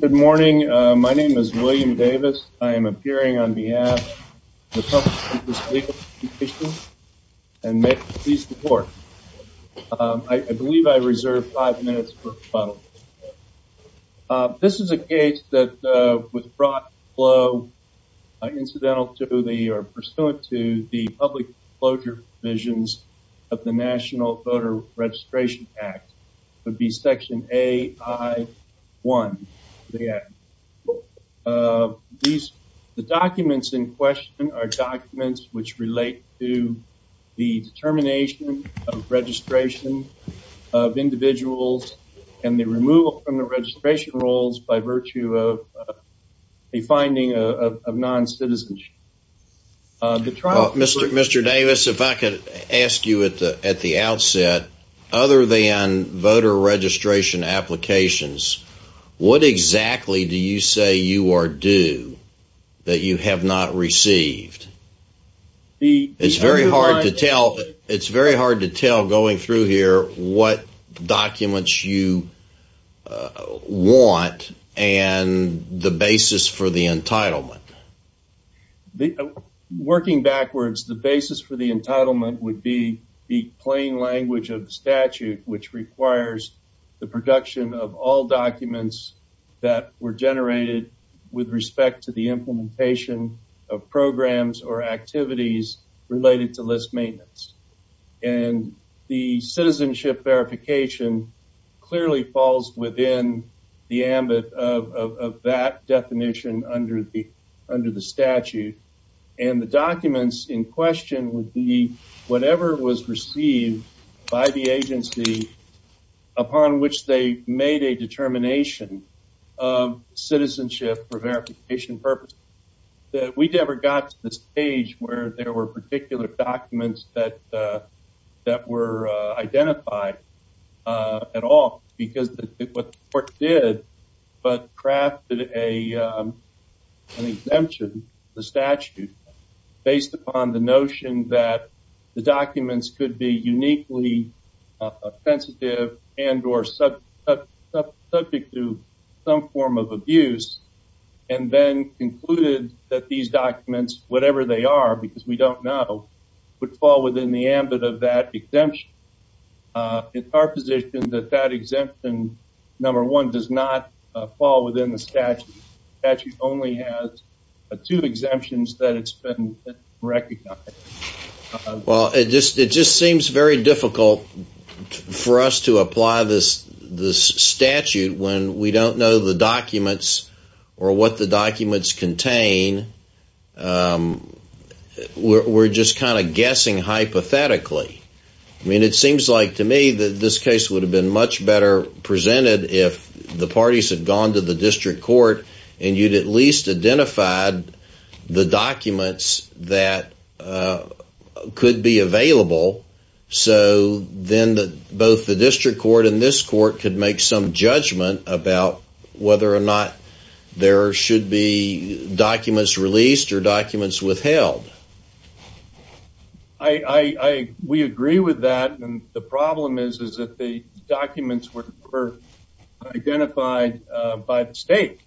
Good morning. My name is William Davis. I am appearing on behalf of the Trump Interest Legal Commission, and may it please the Court, I believe I reserve five minutes for rebuttal. This is a case that was brought to the floor incidental to the, or pursuant to, the public closure provisions of the National Voter Registration Act, would be section AI1. The documents in question are documents which relate to the determination of registration of individuals and the removal from the registration rolls by virtue of a finding of non-citizenship. Mr. Davis, if I could ask you at the outset, other than voter registration applications, what exactly do you say you are due that you have not received? It's very hard to tell. It's very hard to tell going through here what documents you want and the basis for the entitlement. Working backwards, the basis for the entitlement would be the plain language of statute, which requires the that were generated with respect to the implementation of programs or activities related to list maintenance. And the citizenship verification clearly falls within the ambit of that definition under the statute. And the documents in question would be whatever was received by the agency upon which they made a citizenship for verification purposes. We never got to the stage where there were particular documents that were identified at all because what the court did, but crafted an exemption, the statute, based upon the notion that the was some form of abuse, and then concluded that these documents, whatever they are, because we don't know, would fall within the ambit of that exemption. It's our position that that exemption, number one, does not fall within the statute. The statute only has two exemptions that it's been recognized. Well, it just seems very difficult for us to apply this statute when we don't know the documents or what the documents contain. We're just kind of guessing hypothetically. I mean, it seems like to me that this case would have been much better presented if the parties had gone to the district court and you'd at least identified the documents that could be available. So then that both the district court and this court could make some judgment about whether or not there should be documents released or documents withheld. I, we agree with that. And the problem is, is that the documents were identified by the state.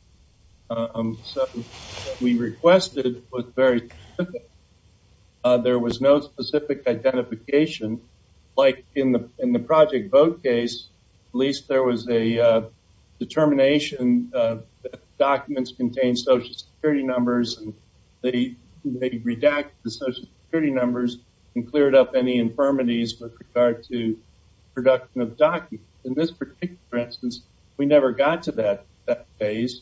So we requested was very, there was no specific identification. Like in the, in the project vote case, at least there was a determination of documents contain social security numbers. They redact the social security numbers and cleared up any infirmities with regard to production of documents. In this particular instance, we never got to that phase.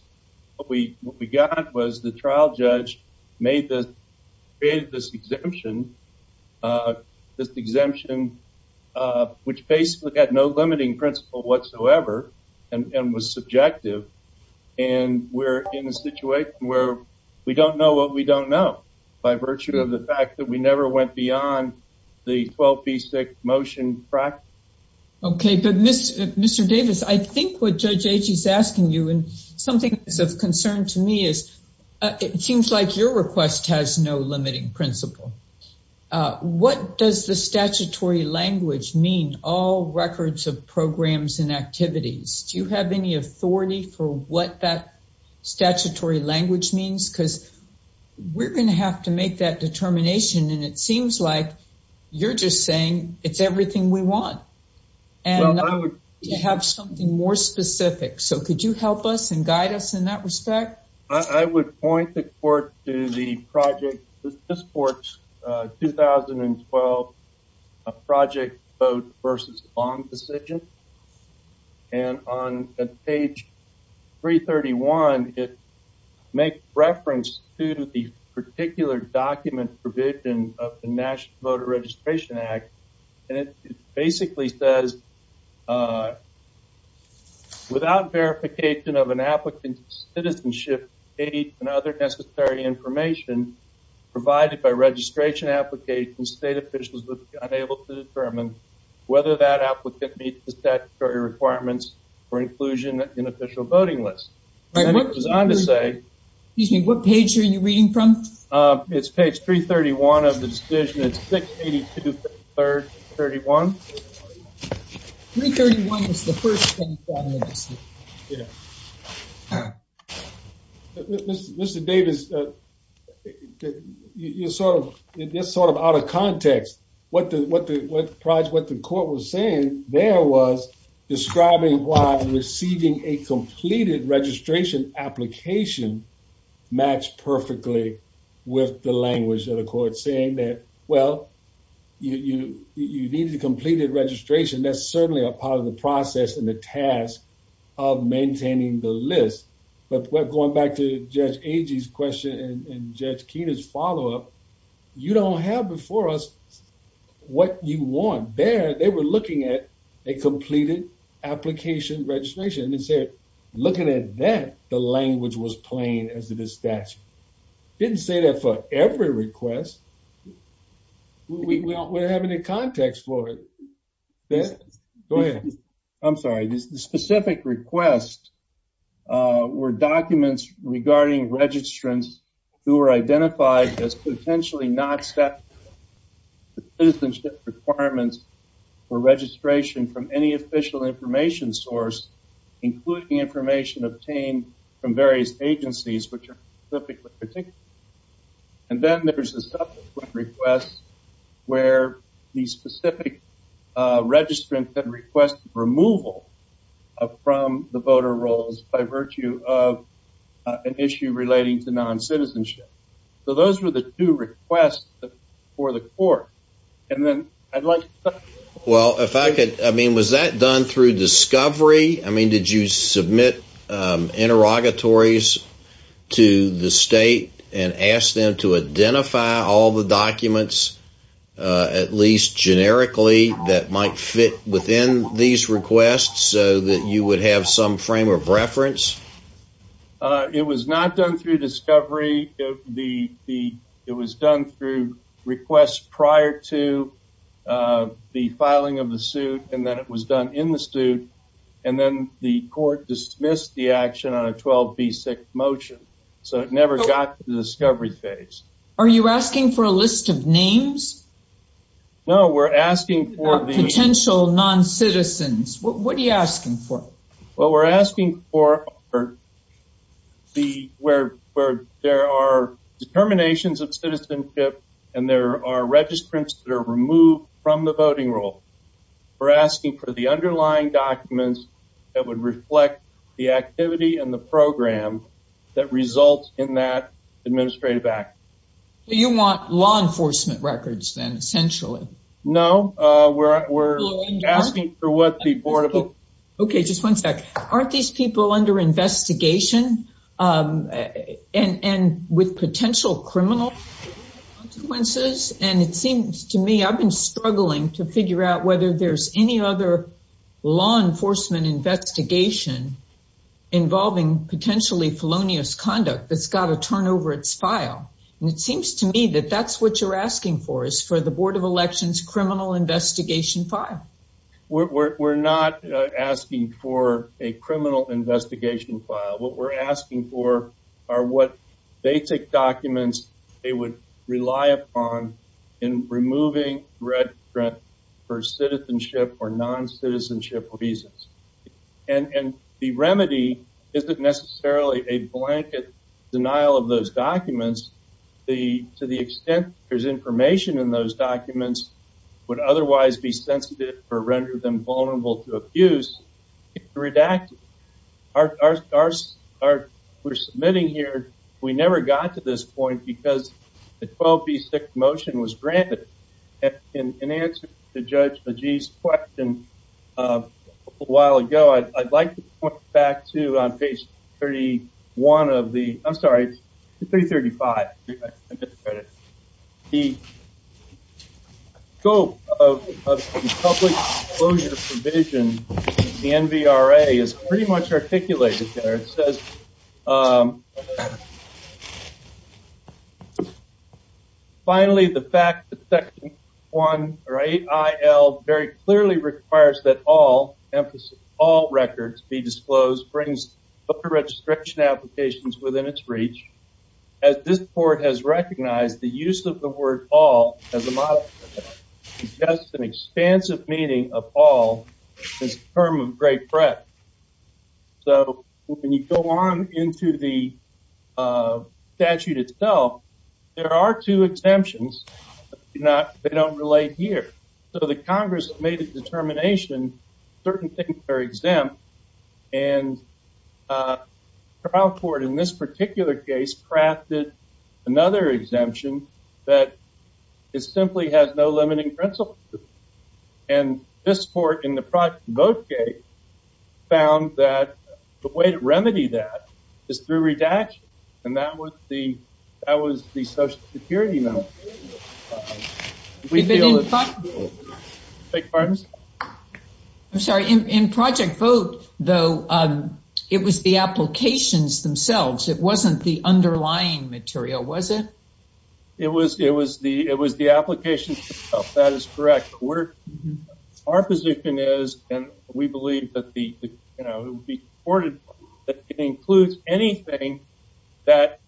What we got was the trial judge made this, created this exemption, which basically had no limiting principle whatsoever and was subjective. And we're in a situation where we don't know what we don't know by virtue of the fact that we never went beyond the 12B6 motion practice. Okay. But Mr. Davis, I think what Judge Agee is asking you and something that's of concern to me is it seems like your request has no limiting principle. What does the statutory language mean? All records of programs and activities. Do you have any authority for what that statutory language means? Because we're going to have to make that determination. And it seems like you're just saying it's everything we want. And I would have something more specific. So could you help us and guide us in that respect? I would point the court to the project, this court's 2012 project vote versus bond decision. And on page 331, it makes reference to the particular document provision of the National Voter Registration Act. And it basically says without verification of an applicant's citizenship, age and other necessary information provided by registration application, state officials would be unable to determine whether that applicant meets the statutory requirements for inclusion in an official voting list. And it goes on to say, excuse me, what page are you reading from? It's page 331 of the first thing. Mr. Davis, you're sort of out of context. What the project, what the court was saying there was describing why receiving a completed registration application matched perfectly with the language of the court saying that, well, you need a completed registration. That's certainly a part of the process and the task of maintaining the list. But we're going back to Judge Agee's question and Judge Keenan's follow up. You don't have before us what you want there. They were looking at a completed application registration and said, looking at that, the language was plain as it is statute. Didn't say that for every request. Well, we don't have any context for it. Go ahead. I'm sorry. This specific request were documents regarding registrants who were identified as potentially not staff citizenship requirements for registration from any official information source, including information obtained from various agencies. And then there's a request where the specific registrant that requests removal from the voter rolls by virtue of an issue relating to non-citizenship. So those were the two requests for the court. And then I'd like, well, if I could, I mean, was that done through discovery? I mean, did you submit interrogatories to the state and ask them to identify all the documents, at least generically, that might fit within these requests so that you would have some frame of reference? It was not done through discovery. It was done through requests prior to the court dismissed the action on a 12b6 motion. So it never got to the discovery phase. Are you asking for a list of names? No, we're asking for the... Potential non-citizens. What are you asking for? Well, we're asking for the, where there are determinations of citizenship, and there are registrants that are removed from the voting roll. We're asking for the underlying documents that would reflect the activity and the program that results in that administrative act. You want law enforcement records then, essentially? No, we're asking for what the board of... Okay, just one sec. Aren't these people under investigation and with potential criminal consequences? And it seems to me, I've been struggling to figure out whether there's any other law enforcement investigation involving potentially felonious conduct that's got to turn over its file. And it seems to me that that's what you're asking for, is for the Board of Elections criminal investigation file. We're not asking for a criminal investigation file. What we're asking for are what basic documents they would rely upon in removing red print for citizenship or non-citizenship reasons. And the remedy isn't necessarily a blanket denial of those documents. To the extent there's information in those documents would otherwise be sensitive or render them vulnerable to abuse, redacted. We're submitting here, we never got to this point because the 12B6 motion was granted. In answer to Judge Agee's question a little while ago, I'd like to point back to on page 31 of the... I'm sorry, it's 335. The scope of public disclosure provision, the NVRA is pretty much articulated there. It says, finally, the fact that Section 1 or 8IL very clearly requires that all records be disclosed brings voter registration applications within its reach. As this meaning of all is a term of great threat. So when you go on into the statute itself, there are two exemptions. They don't relate here. So the Congress made a determination, certain things are exempt. And trial court in this particular case crafted another exemption that is simply has no limiting principle. And this court in the Project Vote case found that the way to remedy that is through redaction. And that was the Social Security motion. I'm sorry, in Project Vote, though, it was the applications themselves. It wasn't the underlying material, was it? It was the applications themselves, that is correct. Our position is, and we believe that it would be supported, that it includes anything that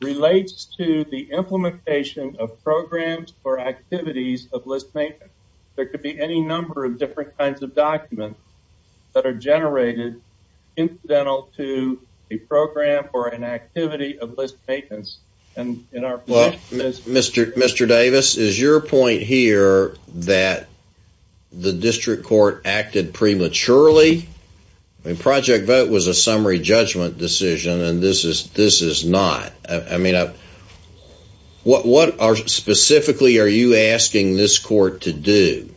relates to the implementation of programs or activities of list maintenance. There could be any number of different kinds of documents that are generated, incidental to a program or an activity of list maintenance. And Mr. Davis, is your point here that the district court acted prematurely? Project Vote was a summary judgment decision. And this is not. I mean, what specifically are you asking this court to do?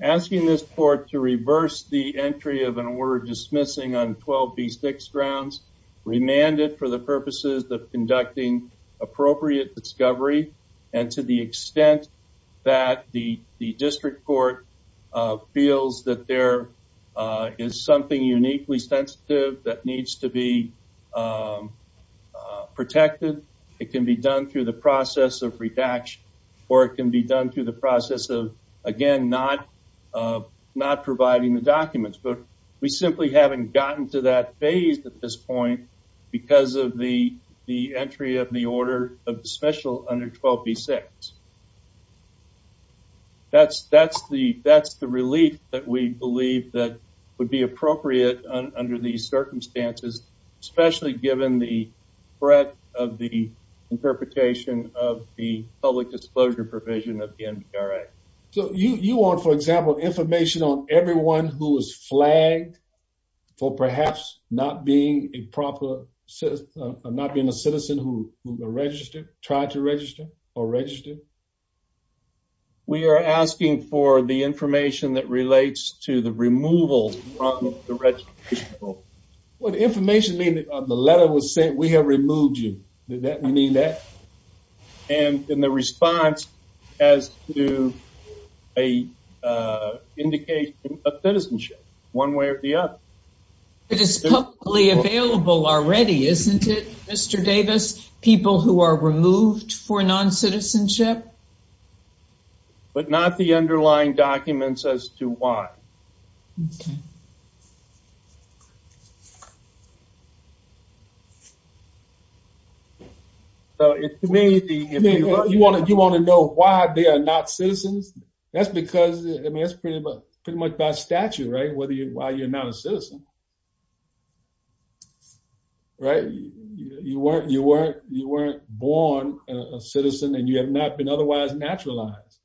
Asking this court to make the entry of an order dismissing on 12B6 grounds, remanded for the purposes of conducting appropriate discovery. And to the extent that the district court feels that there is something uniquely sensitive that needs to be protected, it can be done through the process of redaction, or it can be done through the But we simply haven't gotten to that phase at this point because of the entry of the order of dismissal under 12B6. That's the relief that we believe that would be appropriate under these circumstances, especially given the threat of the interpretation of the public disclosure provision of the NBRA. So you want, for example, information on everyone who was flagged for perhaps not being a proper citizen, not being a citizen who registered, tried to register, or registered? We are asking for the information that relates to the removal from the registration form. What information do you mean? The letter was sent, we have a citizenship, one way or the other. It is publicly available already, isn't it, Mr. Davis? People who are removed for non-citizenship? But not the underlying documents as to why. So if you want to know why they are not citizens, that's because, I mean, it's pretty much by statute, right, why you're not a citizen. Right? You weren't born a citizen and you have not been otherwise naturalized.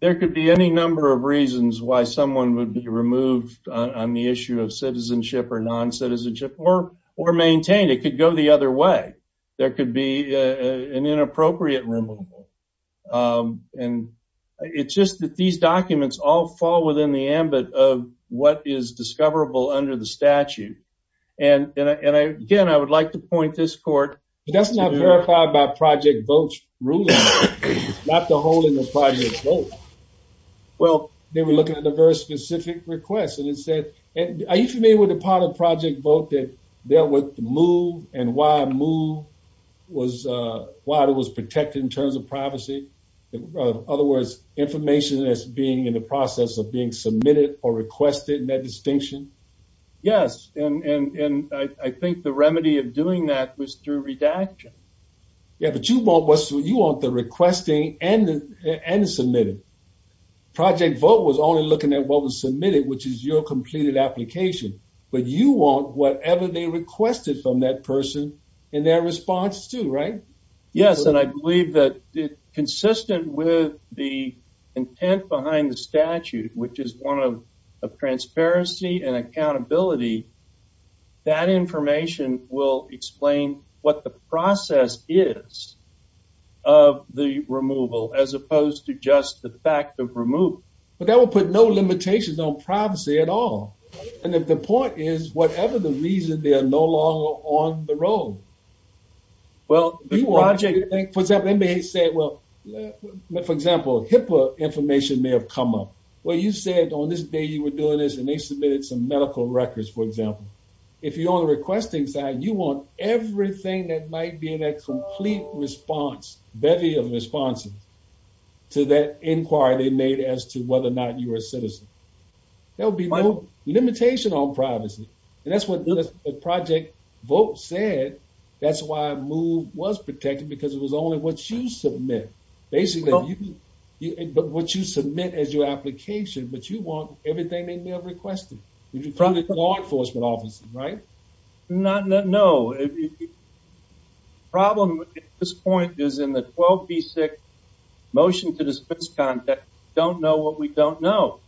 There could be any number of reasons why someone would be removed on the issue of citizenship or non-citizenship or maintained. It could go the other way. There could be an inappropriate removal. And it's just that these documents all fall within the ambit of what is discoverable under the statute. And again, I would like to point this court... But that's not verified by Project VOTE's ruling, not the holding of Project VOTE. Well, they were looking at a very specific request and it said, are you familiar with the part of Project VOTE that dealt with the move and why it was protected in terms of privacy? In other words, information that's being in the process of being submitted or requested and that distinction? Yes. And I think the remedy of doing that was through redaction. Yeah, but you want the requesting and the submitted. Project VOTE was only looking at what was submitted, which is your completed application. But you want whatever they requested from that person in their response too, right? Yes. And I believe that consistent with the intent behind the statute, which is one of transparency and accountability, that information will explain what the process is of the removal as opposed to just the fact of removal. But that will put no limitations on privacy at all. And if the point is, whatever the reason, they are no longer on the road. Well, for example, they may say, well, for example, HIPAA information may have come up. Well, you said on this day you were doing this and they submitted some medical records, for example. If you're on the requesting side, you want everything that might be in that complete response, bevy of responses to that inquiry they made as to whether or not you are a citizen. There will be no limitation on privacy. And that's what the project VOTE said. That's why MOVE was protected because it was only what you submit. Basically, what you submit as your application, but you want everything they may have requested from the law enforcement officer, right? No. The problem at this point is in the 12B6 motion to dispense contact, don't know what we don't know.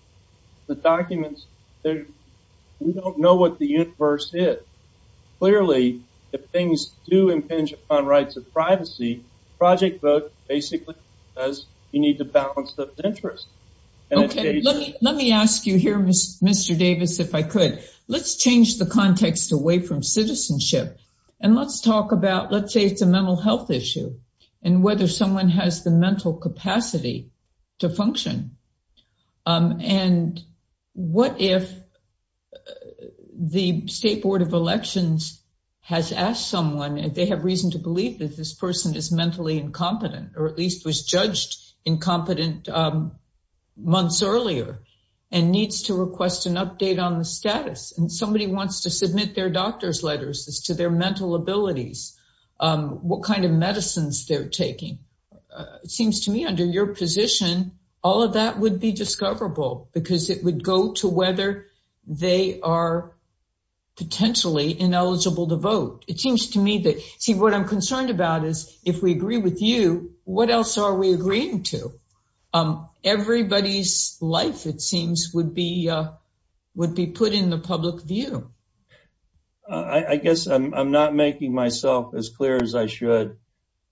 The documents, we don't know what the universe is. Clearly, if things do impinge on rights of privacy, project VOTE basically says you need to balance those interests. Okay. Let me ask you here, Mr. Davis, if I could. Let's change the context away from citizenship and let's talk about, let's say it's a mental health issue and whether someone has the mental capacity to function. And what if the State Board of Elections has asked someone if they have reason to believe that this person is mentally incompetent or at least was judged incompetent months earlier and needs to request an update on the status. And somebody wants to submit their doctor's letters as to their mental abilities, what kind of medicines they're taking. It seems to me under your position, all of that would be discoverable because it would go to whether they are potentially ineligible to vote. It seems to me that, see, what I'm concerned about is if we agree with you, what else are we agreeing to? Everybody's life, it seems, would be put in the public view. I guess I'm not making myself as clear as I should.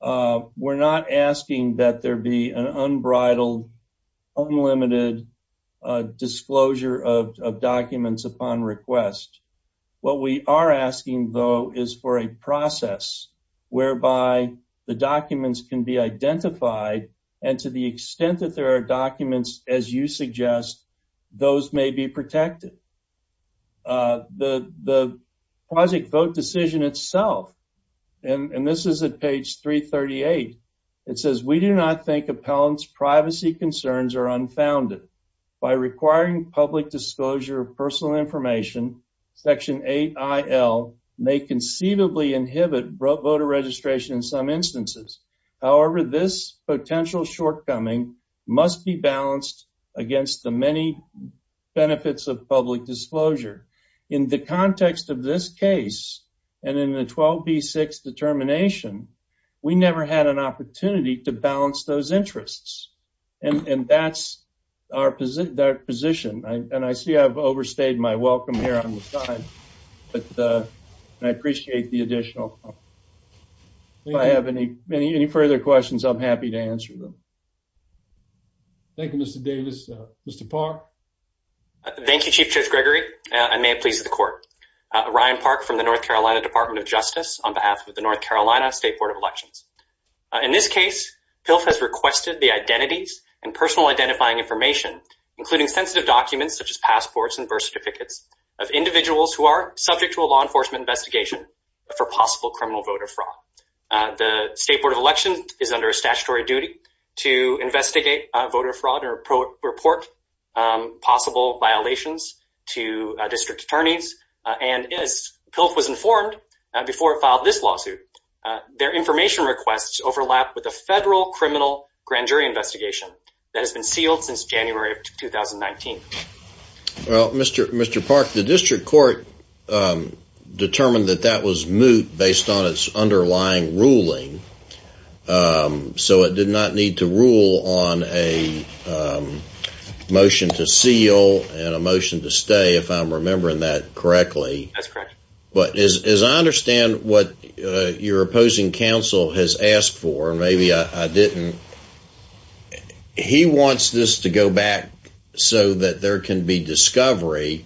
We're not asking that there be an unbridled, unlimited disclosure of documents upon request. What we are asking, though, is for a process whereby the documents can be identified and to the extent that there are documents, as you suggest, those may be protected. The quasi-vote decision itself, and this is at page 338, it says, we do not think appellants' privacy concerns are unfounded. By requiring public disclosure of personal information, Section 8IL may conceivably inhibit voter registration in some instances. However, this potential shortcoming must be balanced against the many benefits of public disclosure. In the context of this case, and in the 12B6 determination, we never had an opportunity to balance those interests. And that's our position. And I see I've overstayed my welcome here on the side, but I appreciate the additional help. If I have any further questions, I'm happy to park. Thank you, Chief Judge Gregory. I may have pleased the court. Ryan Park from the North Carolina Department of Justice on behalf of the North Carolina State Board of Elections. In this case, PILF has requested the identities and personal identifying information, including sensitive documents such as passports and birth certificates of individuals who are subject to a law enforcement investigation for possible criminal voter fraud. The State Board of Elections is under a statutory duty to investigate voter fraud or report possible violations to district attorneys. And as PILF was informed before it filed this lawsuit, their information requests overlap with a federal criminal grand jury investigation that has been sealed since January of 2019. Well, Mr. Park, the district court determined that that was moot based on its underlying ruling, so it did not need to rule on a motion to seal and a motion to stay, if I'm remembering that correctly. That's correct. But as I understand what your opposing counsel has asked for, and maybe I didn't, he wants this to go back so that there can be discovery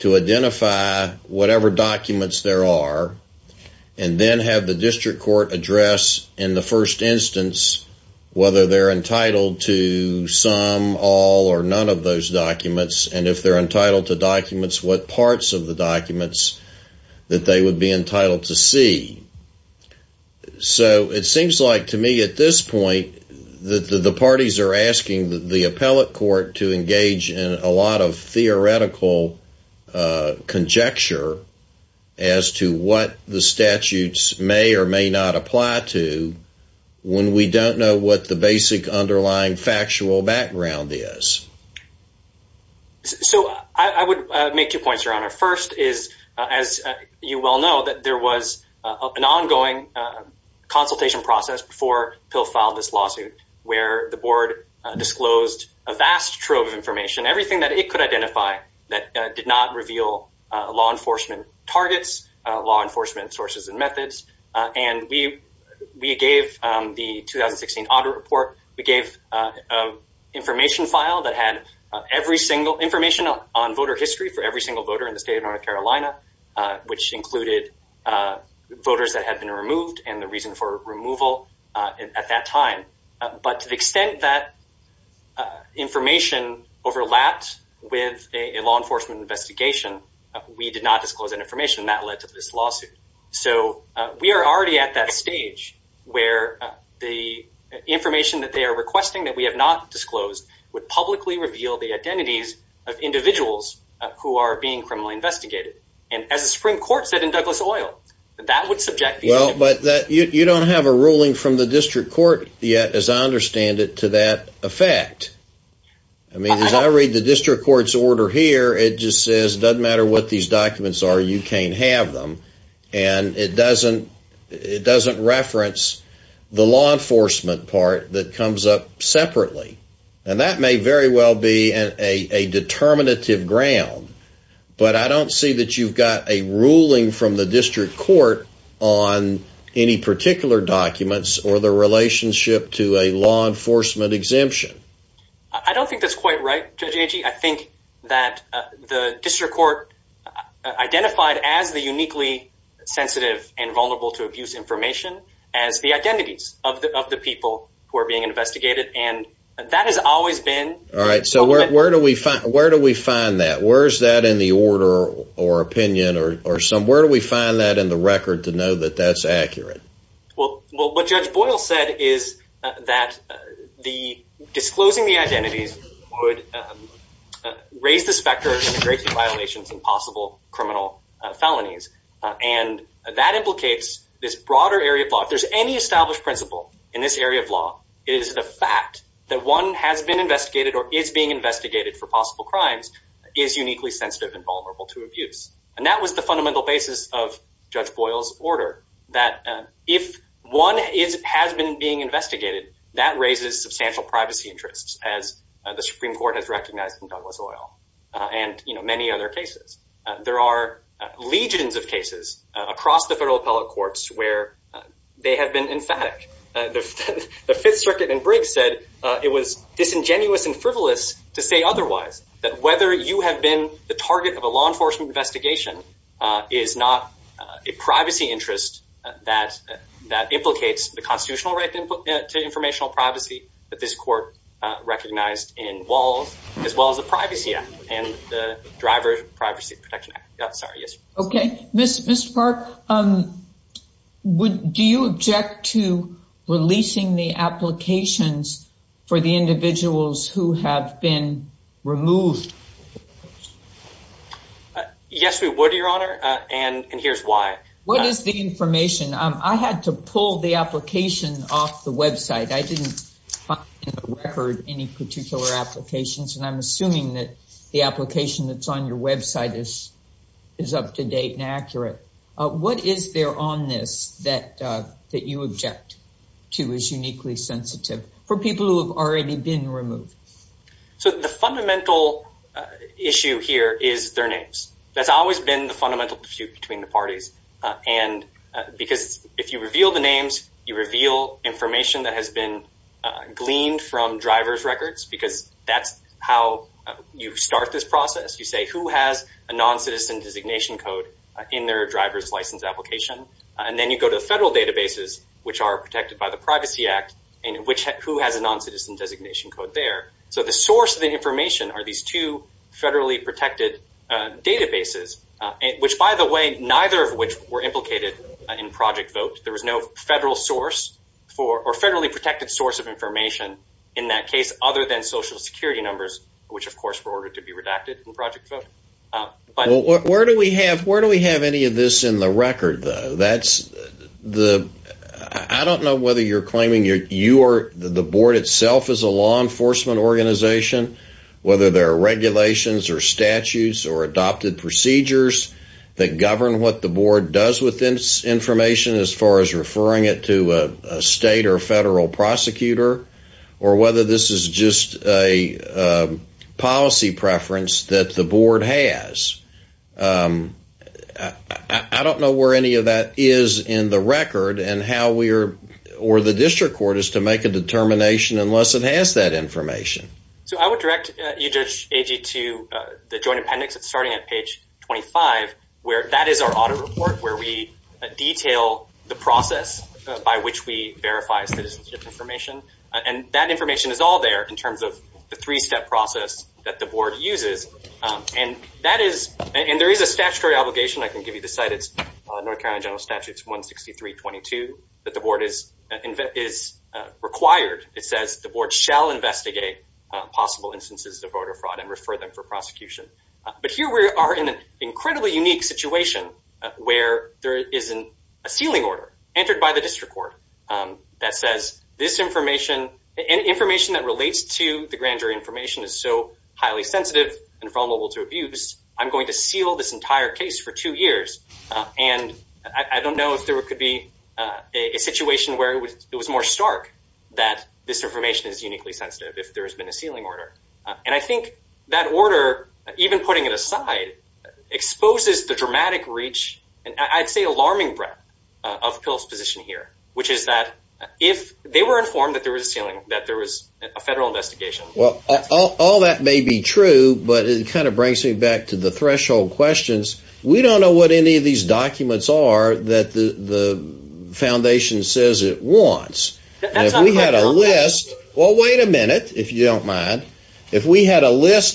to identify whatever documents there are and then have the district court address in the first instance whether they're entitled to some, all, or none of those documents. And if they're entitled to documents, what parts of the documents that they would be entitled to see. So it seems like to me at this point that the parties are asking the appellate court to engage in a lot of theoretical conjecture as to what the statutes may or may not apply to when we don't know what the basic underlying factual background is. So I would make two points, Your Honor. First is, as you well know, that there was an ongoing consultation process before PILF filed this lawsuit where the board disclosed a vast trove of information, everything that it could identify that did not reveal law enforcement targets, law enforcement sources and methods. And we gave the 2016 audit report, we gave an information file that had every single information on voter history for every single in the state of North Carolina, which included voters that had been removed and the reason for removal at that time. But to the extent that information overlapped with a law enforcement investigation, we did not disclose that information and that led to this lawsuit. So we are already at that stage where the information that they are requesting that we have not disclosed would publicly reveal the identities of individuals who are being criminally investigated. And as the Supreme Court said in Douglas Oil, that would subject... Well, but you don't have a ruling from the district court yet as I understand it to that effect. I mean, as I read the district court's order here, it just says it doesn't matter what these documents are, you can't have them. And it doesn't reference the law enforcement part that comes up separately. And that may very well be a determinative ground. But I don't see that you've got a ruling from the district court on any particular documents or the relationship to a law enforcement exemption. I don't think that's quite right, Judge Agee. I think that the district court identified as the uniquely sensitive and vulnerable to abuse information as the identities of the people who are being investigated. And that has always been... All right. So where do we find that? Where is that in the order or opinion or somewhere? Where do we find that in the record to know that that's accurate? Well, what Judge Boyle said is that the disclosing the identities would raise the specter of violations and possible criminal felonies. And that implicates this broader area of law. If there's any established principle in this area of law, it is the fact that one has been investigated or is being investigated for possible crimes, is uniquely sensitive and vulnerable to abuse. And that was the fundamental basis of Judge Boyle's order, that if one has been being investigated, that raises substantial privacy interests as the Supreme Court has recognized in Douglas Oil and many other cases. There are legions of cases across the federal appellate courts where they have been emphatic. The Fifth Circuit in Briggs said it was disingenuous and frivolous to say otherwise, that whether you have been the target of a law enforcement investigation is not a privacy interest that implicates the constitutional right to informational privacy that this court recognized in Walls, as well as the Privacy Act and the Driver Privacy Protection Act. Sorry, yes. Okay. Mr. Park, do you object to releasing the applications for the individuals who have been removed? Yes, we would, Your Honor. And here's why. What is the information? I had to pull the application off the website. I didn't find in the record any particular applications. And I'm assuming that the application that's on your website is up to date and accurate. What is there on this that you object to as uniquely sensitive for people who have already been removed? So the fundamental issue here is their names. That's always been the fundamental dispute between the parties. And because if you reveal the names, you reveal information that has been gleaned from driver's records, because that's how you start this process. You say, who has a non-citizen designation code in their driver's license application? And then you go to the federal databases, which are protected by the Privacy Act, and who has a non-citizen designation code there? So the source of the information are these two federally protected databases, which by the way, neither of which were implicated in Project Vote. There was no federal source for, or federally protected source of information in that case other than Social Security numbers, which of course were ordered to be redacted in Project Vote. Where do we have any of this in the record though? I don't know whether you're claiming the board itself is a law enforcement organization, whether there are regulations or statutes or adopted procedures that govern what the board does with this information as far as referring it to a state or federal prosecutor, or whether this is just a policy preference that the board has. I don't know where any of that is in the record, and how we are, or the district court is to make a determination unless it has that information. So I would direct you, Judge Agee, to the joint appendix. It's starting at page 25, where that is our audit report, where we detail the process by which we verify citizenship information. And that information is all there in terms of the three-step process that the board uses. And there is a statutory obligation, I can give you the site, it's North Carolina General Statute 163.22, that the board is required, it says the board shall investigate possible instances of voter fraud and refer them for prosecution. But here we are in an incredibly unique situation where there is a sealing order entered by the district court that says this information, information that relates to the grand jury information is so highly sensitive and vulnerable to abuse, I'm going to seal this entire case for two years. And I don't know if there could be a situation where it was more stark that this information is uniquely sensitive if there has been a sealing order. And I think that order, even putting it aside, exposes the dramatic reach and I'd say alarming breadth of PILF's position here, which is that if they were informed that there was a sealing, that there was a federal investigation. Well, all that may be true, but it kind of brings me back to the threshold questions. We don't know what any of these documents are that the foundation says it If we had a list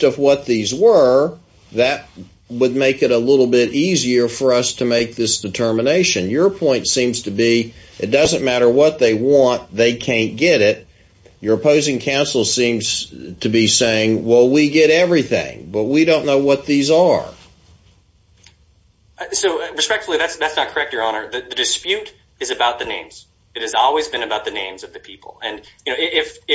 of what these were, that would make it a little bit easier for us to make this determination. Your point seems to be, it doesn't matter what they want, they can't get it. Your opposing counsel seems to be saying, well, we get everything, but we don't know what these are. So respectfully, that's not correct, Your Honor. The dispute is about the names. It has always been about the names of the people. And if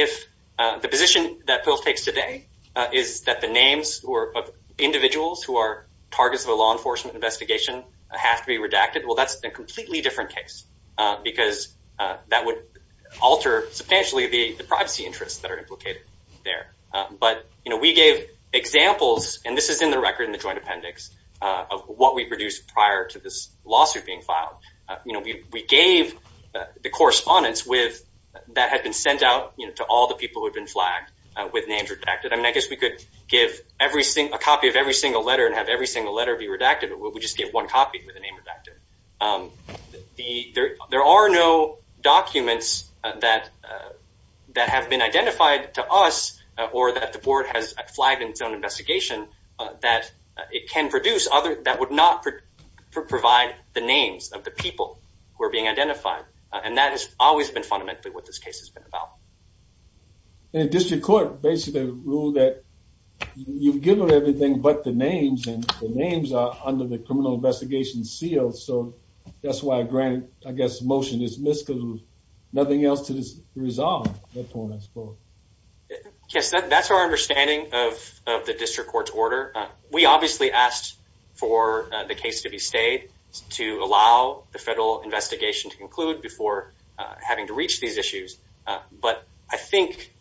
the position that PILF takes today is that the names of individuals who are targets of a law enforcement investigation have to be redacted, well, that's a completely different case, because that would alter substantially the privacy interests that are implicated there. But we gave examples, and this is in the record in the joint appendix, of what we produced prior to this lawsuit being filed. We gave the correspondence that had been sent out to all the people who had been flagged with names redacted. I mean, I guess we could give a copy of every single letter and have every single letter be redacted, but we just gave one copy with the name redacted. There are no documents that have been identified to us, or that the board has flagged in its own investigation, that it can produce other, that would not provide the names of the people who are being identified. And that has always been fundamentally what this case has been about. And the district court basically ruled that you've given everything but the names, and the names are under the criminal investigation seal, so that's why I grant, I guess, the motion is missed, because there's nothing else to resolve. Yes, that's our understanding of the district court's order. We obviously asked for the case to be stayed, to allow the federal investigation to conclude before having to reach these issues. But I think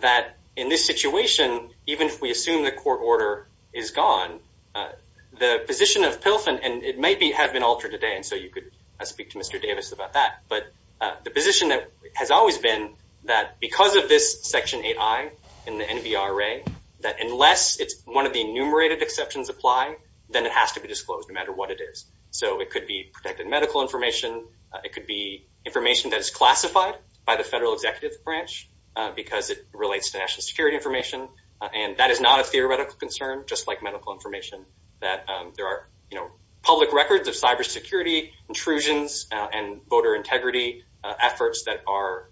that in this situation, even if we assume the court order is gone, the position of Pilfen, and it may have been altered today, and so you could speak to Mr. Davis about that, but the position that has always been that because of this Section 8i in the NBRA, that unless it's one of the enumerated exceptions apply, then it has to be disclosed no matter what it is. So it could be protected medical information, it could be information that is classified by the federal executive branch, because it relates to national security information, and that is not a theoretical concern, just like medical information, that there are, you know, public records of cyber security intrusions and voter integrity efforts that are,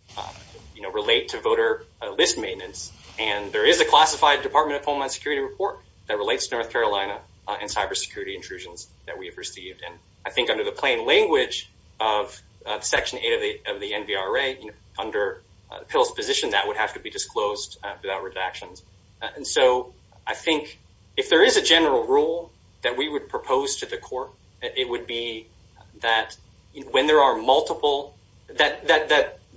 you know, relate to voter list maintenance, and there is a classified Department of Homeland Security report that relates to North Carolina and cyber security intrusions that we have received, and I think under the plain language of Section 8 of the NBRA, you know, under Pilfen's position, that would have to be disclosed without redactions. And so I think if there is a general rule that we would propose to the court, it would be that when there are multiple, that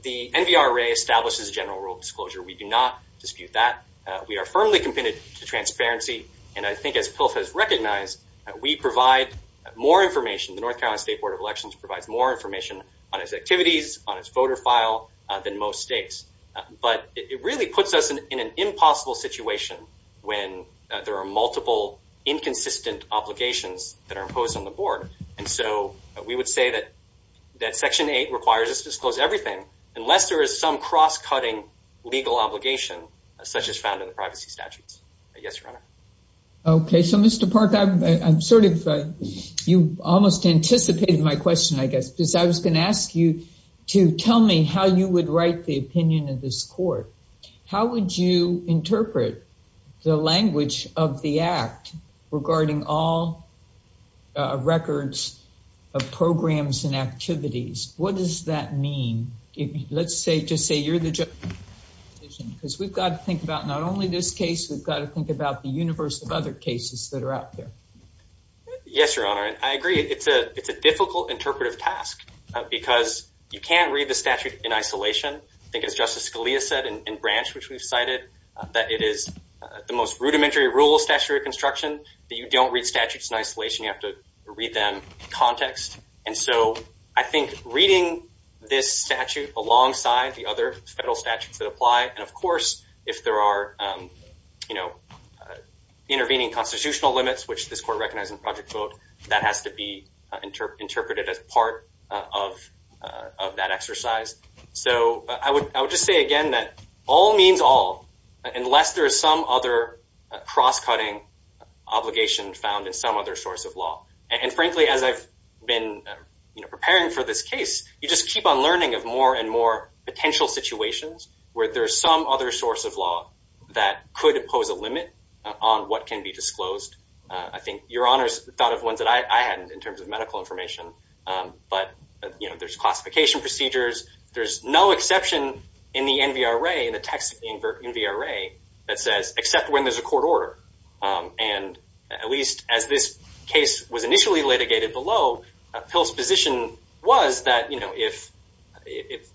the NBRA establishes a general rule of disclosure. We do not dispute that. We are firmly committed to transparency, and I think as Pilfen has recognized, we provide more information, the North Carolina State Board of Elections provides more information on its activities, on its voter file, than most but it really puts us in an impossible situation when there are multiple inconsistent obligations that are imposed on the board, and so we would say that Section 8 requires us to disclose everything unless there is some cross-cutting legal obligation such as found in the privacy statutes. Yes, Your Honor. Okay, so Mr. Park, I'm sort of, you almost anticipated my question, I guess, because I was going to ask you to tell me how you would write the opinion of this court. How would you interpret the language of the Act regarding all records of programs and activities? What does that mean? Let's say, just say you're the judge, because we've got to think about not only this case, we've got to think about the universe of other cases that are out there. Yes, Your Honor, I agree it's a difficult interpretive task because you can't read the statute in isolation. I think as Justice Scalia said in Branch, which we've cited, that it is the most rudimentary rule of statutory reconstruction that you don't read statutes in isolation, you have to read them in context, and so I think reading this statute alongside the other federal statutes that apply, and of course if there are, you know, intervening constitutional limits, which this court recognized in Project VOTE, that has to be interpreted as part of that exercise. So I would just say again that all means all, unless there is some other cross-cutting obligation found in some other source of law. And frankly, as I've been preparing for this case, you just keep on learning of more and more potential situations where there's some other source of law that could impose a limit on what can be disclosed. I think Your Honor's thought of ones that I hadn't in terms of medical information, but you know, there's classification procedures. There's no exception in the NVRA, in the text of the NVRA, that says except when there's a court order. And at least as this case was initially litigated below, Pell's position was that, you know, if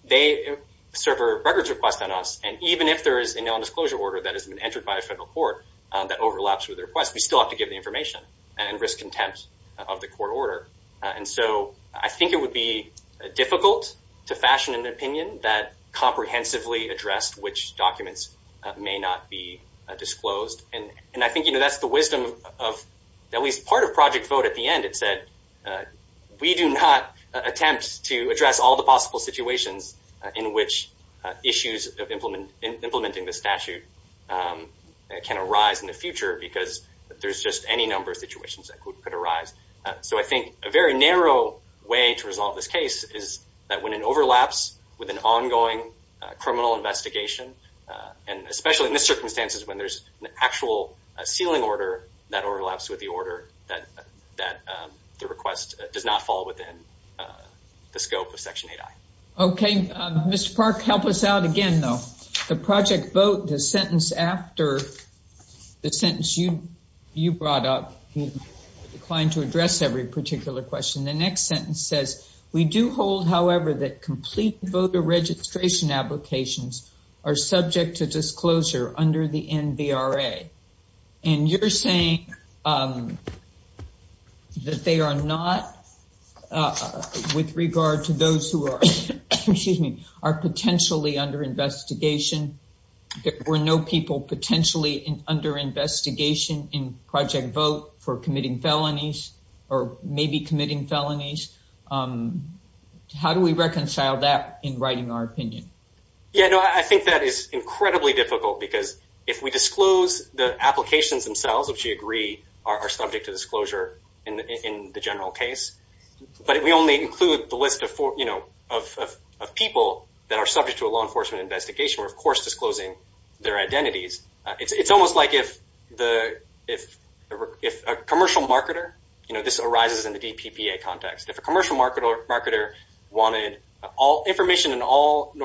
they serve a records request on us, and even if there is a nondisclosure order that has been entered by a federal court that overlaps with the request, we still have to give the information and risk contempt of the court order. And so I think it would be difficult to fashion an opinion that comprehensively addressed which documents may not be disclosed. And I think, you know, that's the wisdom of at least part of Project VOTE at the end. It said we do not attempt to address all the possible situations in which issues of implementing the statute can arise in the future, because there's just any number of situations that could arise. So I think a very narrow way to resolve this case is that when it overlaps with an ongoing criminal investigation, and especially in the circumstances when there's an actual sealing order that overlaps with the order, that the request does not fall within the scope of Section 8i. Okay. Mr. Park, help us out again, though. The Project VOTE, the sentence after the sentence you brought up, he declined to address every particular question. The next sentence says, we do hold, however, that complete voter registration applications are subject to and you're saying that they are not, with regard to those who are, excuse me, are potentially under investigation. There were no people potentially under investigation in Project VOTE for committing felonies, or maybe committing felonies. How do we reconcile that in writing our opinion? Yeah, no, I think that is incredibly difficult, because if we disclose the applications themselves, which we agree are subject to disclosure in the general case, but if we only include the list of people that are subject to a law enforcement investigation, we're of course disclosing their identities. It's almost like if a commercial marketer, you know, this arises in the DPPA context. If a commercial marketer wanted information in all the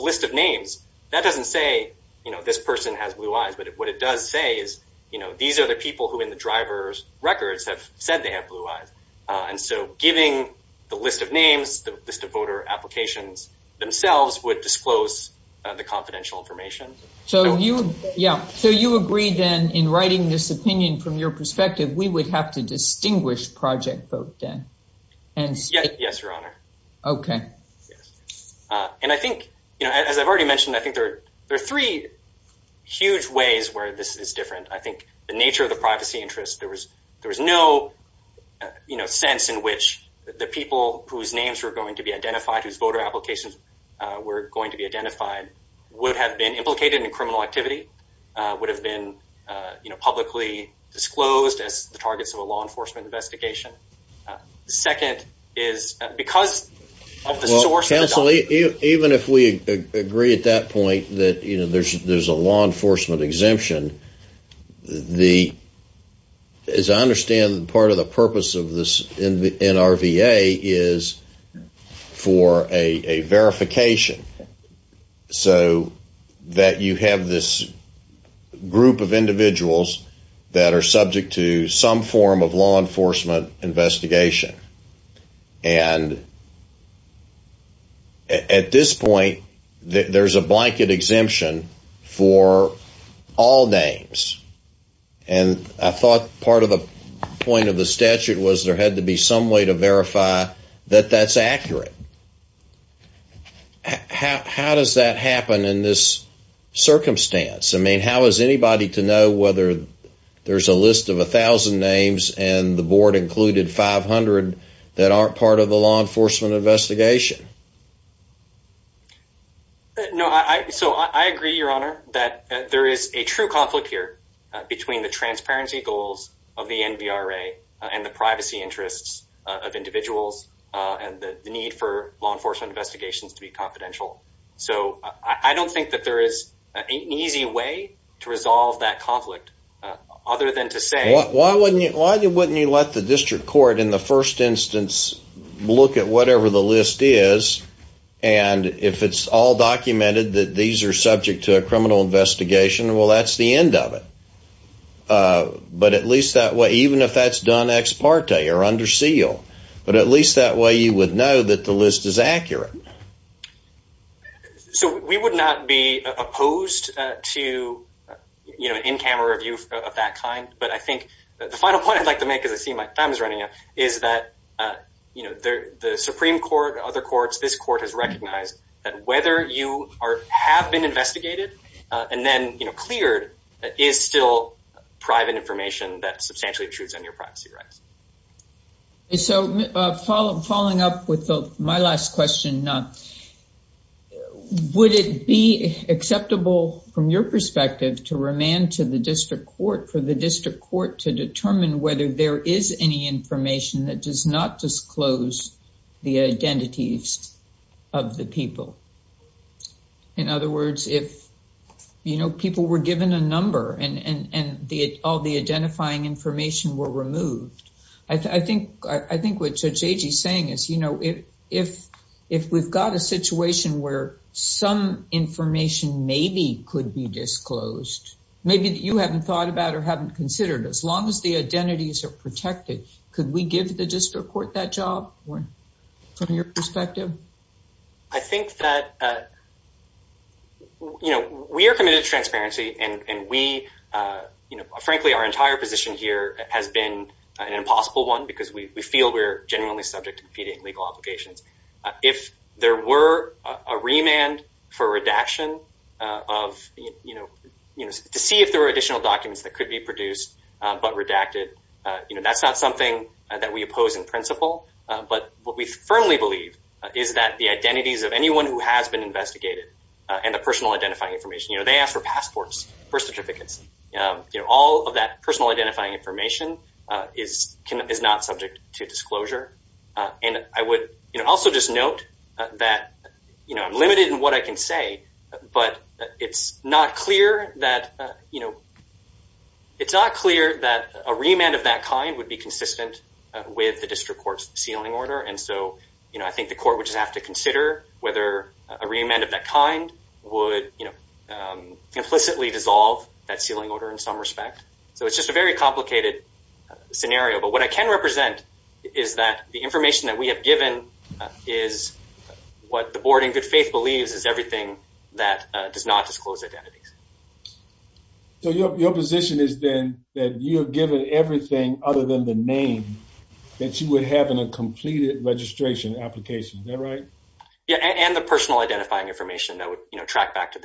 list of names, that doesn't say, you know, this person has blue eyes, but what it does say is, you know, these are the people who in the driver's records have said they have blue eyes, and so giving the list of names, the list of voter applications themselves would disclose the confidential information. So you, yeah, so you agree, then, in writing this opinion from your perspective, we would have to distinguish Project VOTE, then? Yes, your honor. Okay. Yes, and I think, you know, as I've already mentioned, I think there are three huge ways where this is different. I think the nature of the privacy interest, there was no, you know, sense in which the people whose names were going to be identified, whose voter applications were going to be identified, would have been implicated in criminal activity, would have been, you know, publicly disclosed as the targets of a law enforcement investigation. The second is, because of the source of the document. Well, counsel, even if we agree at that point that, you know, there's a law enforcement exemption, the, as I understand, part of the purpose of this NRVA is for a verification, so that you have this group of individuals that are subject to some form of law enforcement investigation. And at this point, there's a blanket exemption for all names. And I thought part of the point of the statute was there had to be some way to verify that that's accurate. How does that happen in this circumstance? I mean, how is anybody to know whether there's a list of 1,000 names and the board included 500 that aren't part of the law enforcement investigation? No, I, so I agree, Your Honor, that there is a true conflict here between the transparency goals of the NVRA and the privacy interests of individuals and the need for law enforcement investigations to be confidential. So I don't think that there is an easy way to other than to say... Why wouldn't you let the district court in the first instance look at whatever the list is, and if it's all documented that these are subject to a criminal investigation, well, that's the end of it. But at least that way, even if that's done ex parte or under seal, but at least that way you would know that the list is accurate. So we would not be opposed to, you know, in-camera review of that kind. But I think the final point I'd like to make, as I see my time is running out, is that, you know, the Supreme Court, other courts, this court has recognized that whether you have been investigated and then, you know, cleared is still private information that substantially intrudes on your privacy rights. And so following up with my last question, would it be acceptable from your perspective to remand to the district court for the district court to determine whether there is any information that does not disclose the identities of the people? In other words, if, you know, people were given a number and all the identifying information were removed, I think what Judge Agee is saying is, you know, if we've got a situation where some information maybe could be disclosed, maybe that you haven't thought about or haven't considered, as long as the identities are protected, could we give the district court that job from your perspective? I think that, you know, we are committed to remand. I don't think remand here has been an impossible one because we feel we're genuinely subject to competing legal obligations. If there were a remand for redaction of, you know, to see if there were additional documents that could be produced but redacted, you know, that's not something that we oppose in principle. But what we firmly believe is that the identities of anyone who has been investigated and the personal identifying information, you know, they ask for is not subject to disclosure. And I would, you know, also just note that, you know, I'm limited in what I can say, but it's not clear that, you know, it's not clear that a remand of that kind would be consistent with the district court's sealing order. And so, you know, I think the court would just have to consider whether a remand of that kind would, you know, implicitly dissolve that sealing order in some respect. So it's just a very complicated scenario. But what I can represent is that the information that we have given is what the board in good faith believes is everything that does not disclose identities. So your position is then that you're given everything other than the name that you would have in a completed registration application, is that right? Yeah, and the personal identifying information that would, you know, track back to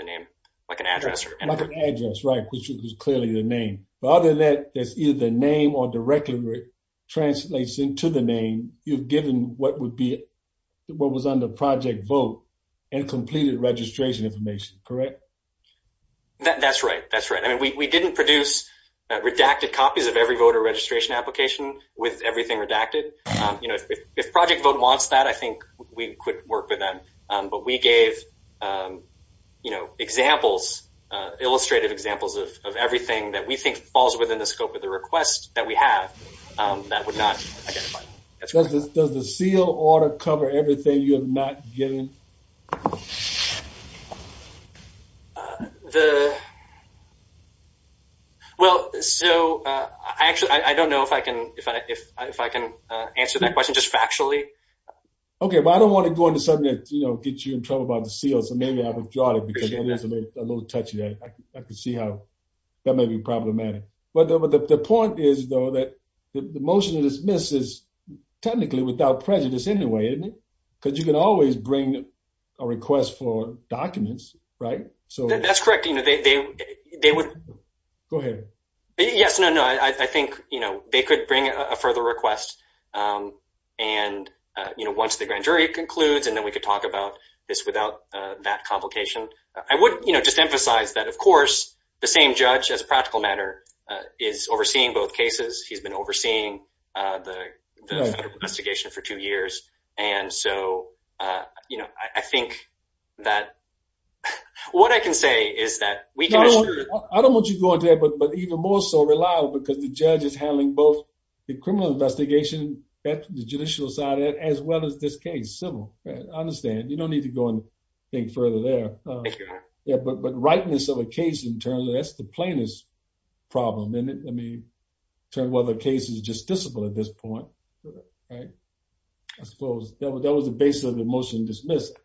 like an address. Like an address, right, which is clearly the name. But other than that, that's either the name or directly translates into the name you've given what would be what was under project vote and completed registration information, correct? That's right. That's right. I mean, we didn't produce redacted copies of every voter registration application with everything redacted. You know, if project vote wants that, I think we could work with them. But we gave, you know, examples, illustrative examples of everything that we think falls within the scope of the request that we have that would not identify. Does the seal order cover everything you have not given? Well, so I actually, I don't know if I can answer that question just factually. Okay, well, I don't want to go into something that, you know, gets you in trouble about the seal. So maybe I withdraw it because it is a little touchy. I can see how that may be problematic. But the point is, though, that the motion to dismiss is technically without prejudice anyway, isn't it? Because you can always bring a request for documents, right? So that's correct. You know, they would go ahead. Yes, no, no, I think, you know, they could bring a further request. And, you know, once the grand jury concludes, and then we could talk about this without that complication. I would, you know, just emphasize that, of course, the same judge as a practical matter, is overseeing both cases, he's been overseeing the investigation for two years. And so, you know, I think that what I can say is that we I don't want you to go there. But but even more so reliable, because the judge is handling both criminal investigation at the judicial side, as well as this case, civil. I understand, you don't need to go and think further there. Yeah, but but rightness of a case in terms of that's the plainest problem in it. I mean, turn whether the case is justiciable at this point. Right. I suppose that was that was the basis of the motion dismissed.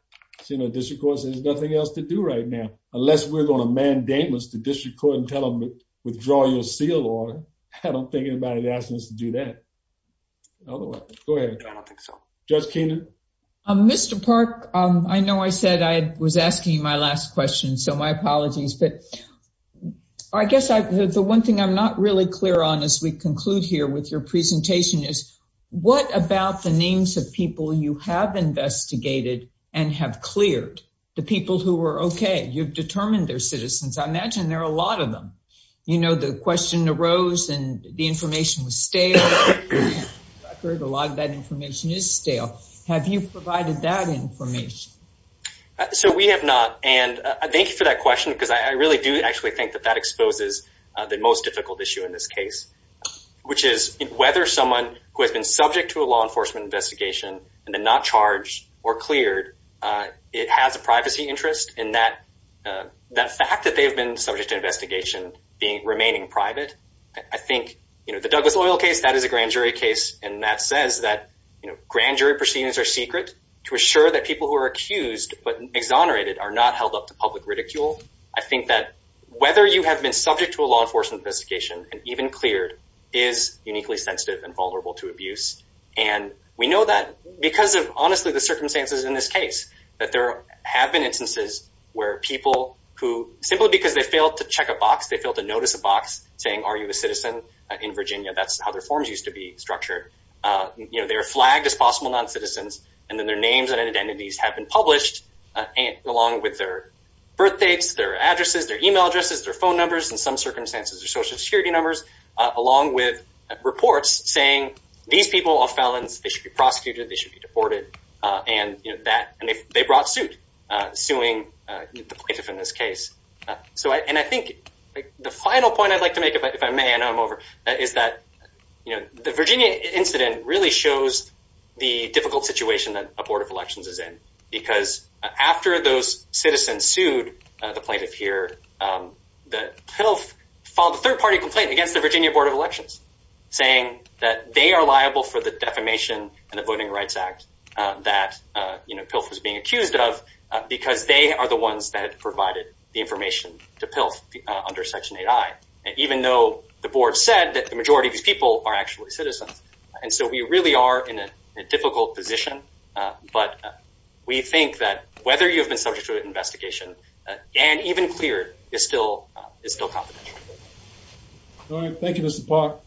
So you know, this of course, there's nothing else to do right now, unless we're going to mandate us to district court and tell them, withdraw your seal order. I don't think anybody's asking us to do that. Otherwise, go ahead. I don't think so. Judge Keenan. Mr. Park, I know I said I was asking you my last question. So my apologies. But I guess the one thing I'm not really clear on as we conclude here with your presentation is, what about the names of people you have investigated and have cleared the people who were okay, you've determined their citizens, I imagine there are a information was stale. I've heard a lot of that information is stale. Have you provided that information? So we have not. And thank you for that question. Because I really do actually think that that exposes the most difficult issue in this case, which is whether someone who has been subject to a law enforcement investigation, and then not charged or cleared, it has a privacy interest in that, that fact that they've been subject to investigation being remaining private, I think, you know, the Douglas oil case, that is a grand jury case. And that says that, you know, grand jury proceedings are secret, to assure that people who are accused, but exonerated are not held up to public ridicule. I think that whether you have been subject to a law enforcement investigation, and even cleared, is uniquely sensitive and vulnerable to abuse. And we know that because of honestly, the circumstances in this case, that there have been instances where people who simply because they failed to check a box, they failed to notice a box saying, are you a citizen in Virginia, that's how their forms used to be structured. You know, they are flagged as possible non citizens, and then their names and identities have been published, along with their birthdates, their addresses, their email addresses, their phone numbers, in some circumstances, or social security numbers, along with reports saying, these people are felons, they should be prosecuted, they should be deported. And that and if they brought suit, suing the plaintiff in this case. So I think the final point I'd like to make, if I may, and I'm over, is that, you know, the Virginia incident really shows the difficult situation that a Board of Elections is in. Because after those citizens sued the plaintiff here, the PILF filed a third party complaint against the Virginia Board of Elections, saying that they are liable for the defamation and the Voting Rights Act that, you know, PILF was being accused of, because they are the ones that provided the information to PILF under Section 8i. And even though the Board said that the majority of these people are actually citizens. And so we really are in a difficult position. But we think that whether you've been subject to an investigation, and even cleared, is still confidential. All right, thank you, Mr. Park.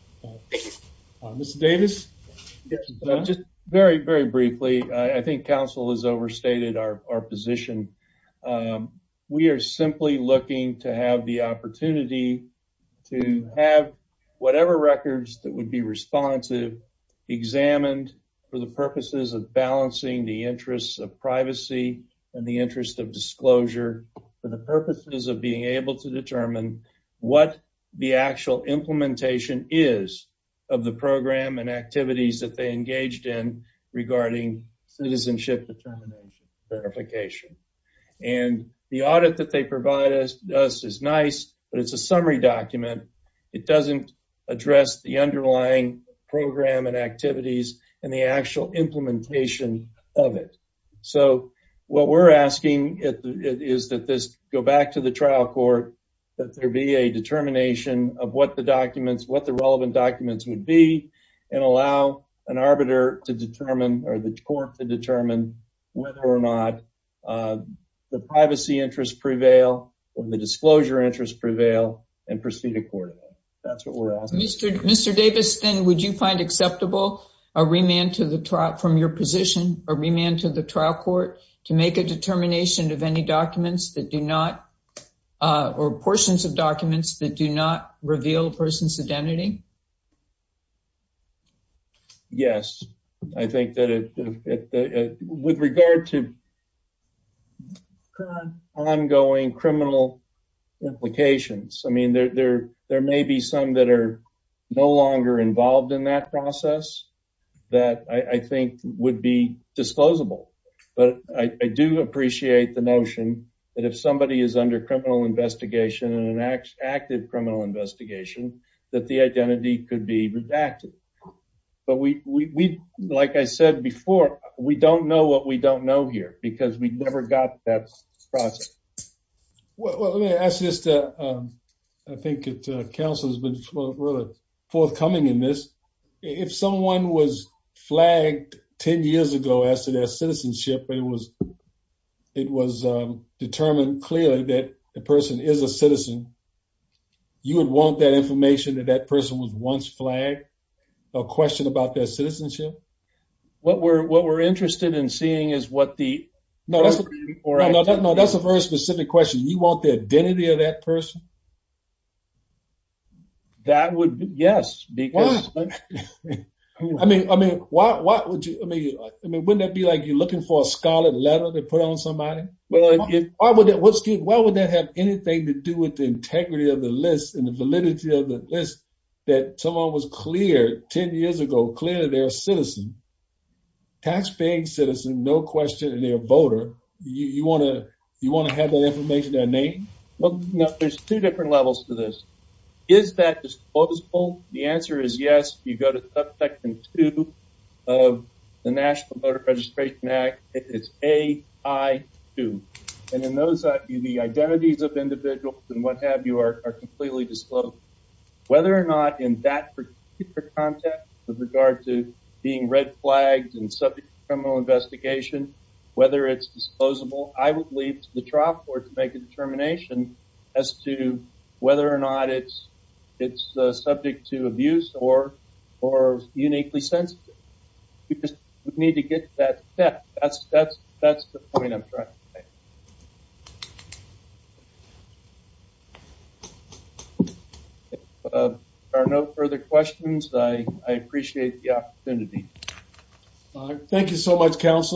Mr. Davis? Just very, very briefly, I think Council has overstated our position. We are simply looking to have the opportunity to have whatever records that would be responsive, examined for the purposes of balancing the interests of privacy and the interest of the program and activities that they engaged in regarding citizenship determination verification. And the audit that they provide us is nice, but it's a summary document. It doesn't address the underlying program and activities and the actual implementation of it. So what we're asking is that this go back to the trial court, that there be a determination of what the documents, what the relevant documents would be, and allow an arbiter to determine or the court to determine whether or not the privacy interests prevail, or the disclosure interests prevail, and proceed accordingly. That's what we're asking. Mr. Davis, then, would you find acceptable a remand to the trial, from your position, a remand to the trial court to make a determination of any documents that do not, or portions of documents that do not reveal a person's identity? Yes. I think that with regard to ongoing criminal implications, I mean, there may be some that are no longer involved in that process that I think would be disclosable. But I do appreciate the criminal investigation and an active criminal investigation that the identity could be redacted. But we, like I said before, we don't know what we don't know here because we never got that process. Well, let me ask this. I think that counsel has been really forthcoming in this. If someone was flagged 10 years ago as to their citizenship, it was determined clearly that the person is a citizen. You would want that information that that person was once flagged, a question about their citizenship? What we're interested in seeing is what the- No, that's a very specific question. You want the identity of that person? That would, yes. Why? I mean, wouldn't that be like you're looking for a scarlet letter to put on somebody? Why would that have anything to do with the integrity of the list and the validity of the list that someone was cleared 10 years ago, clearly they're a citizen, taxpaying citizen, no question, and they're a voter. You want to have that information, that name? Well, there's two different levels to this. Is that disposable? The answer is yes. You go to Voter Registration Act. It's A.I.2. And in those, the identities of individuals and what have you are completely disclosed. Whether or not in that particular context with regard to being red flagged and subject to criminal investigation, whether it's disposable, I would leave to the trial court to make a determination as to whether or not it's subject to abuse or uniquely sensitive. You just need to get that set. That's the point I'm trying to make. If there are no further questions, I appreciate the opportunity. Thank you so much, Council.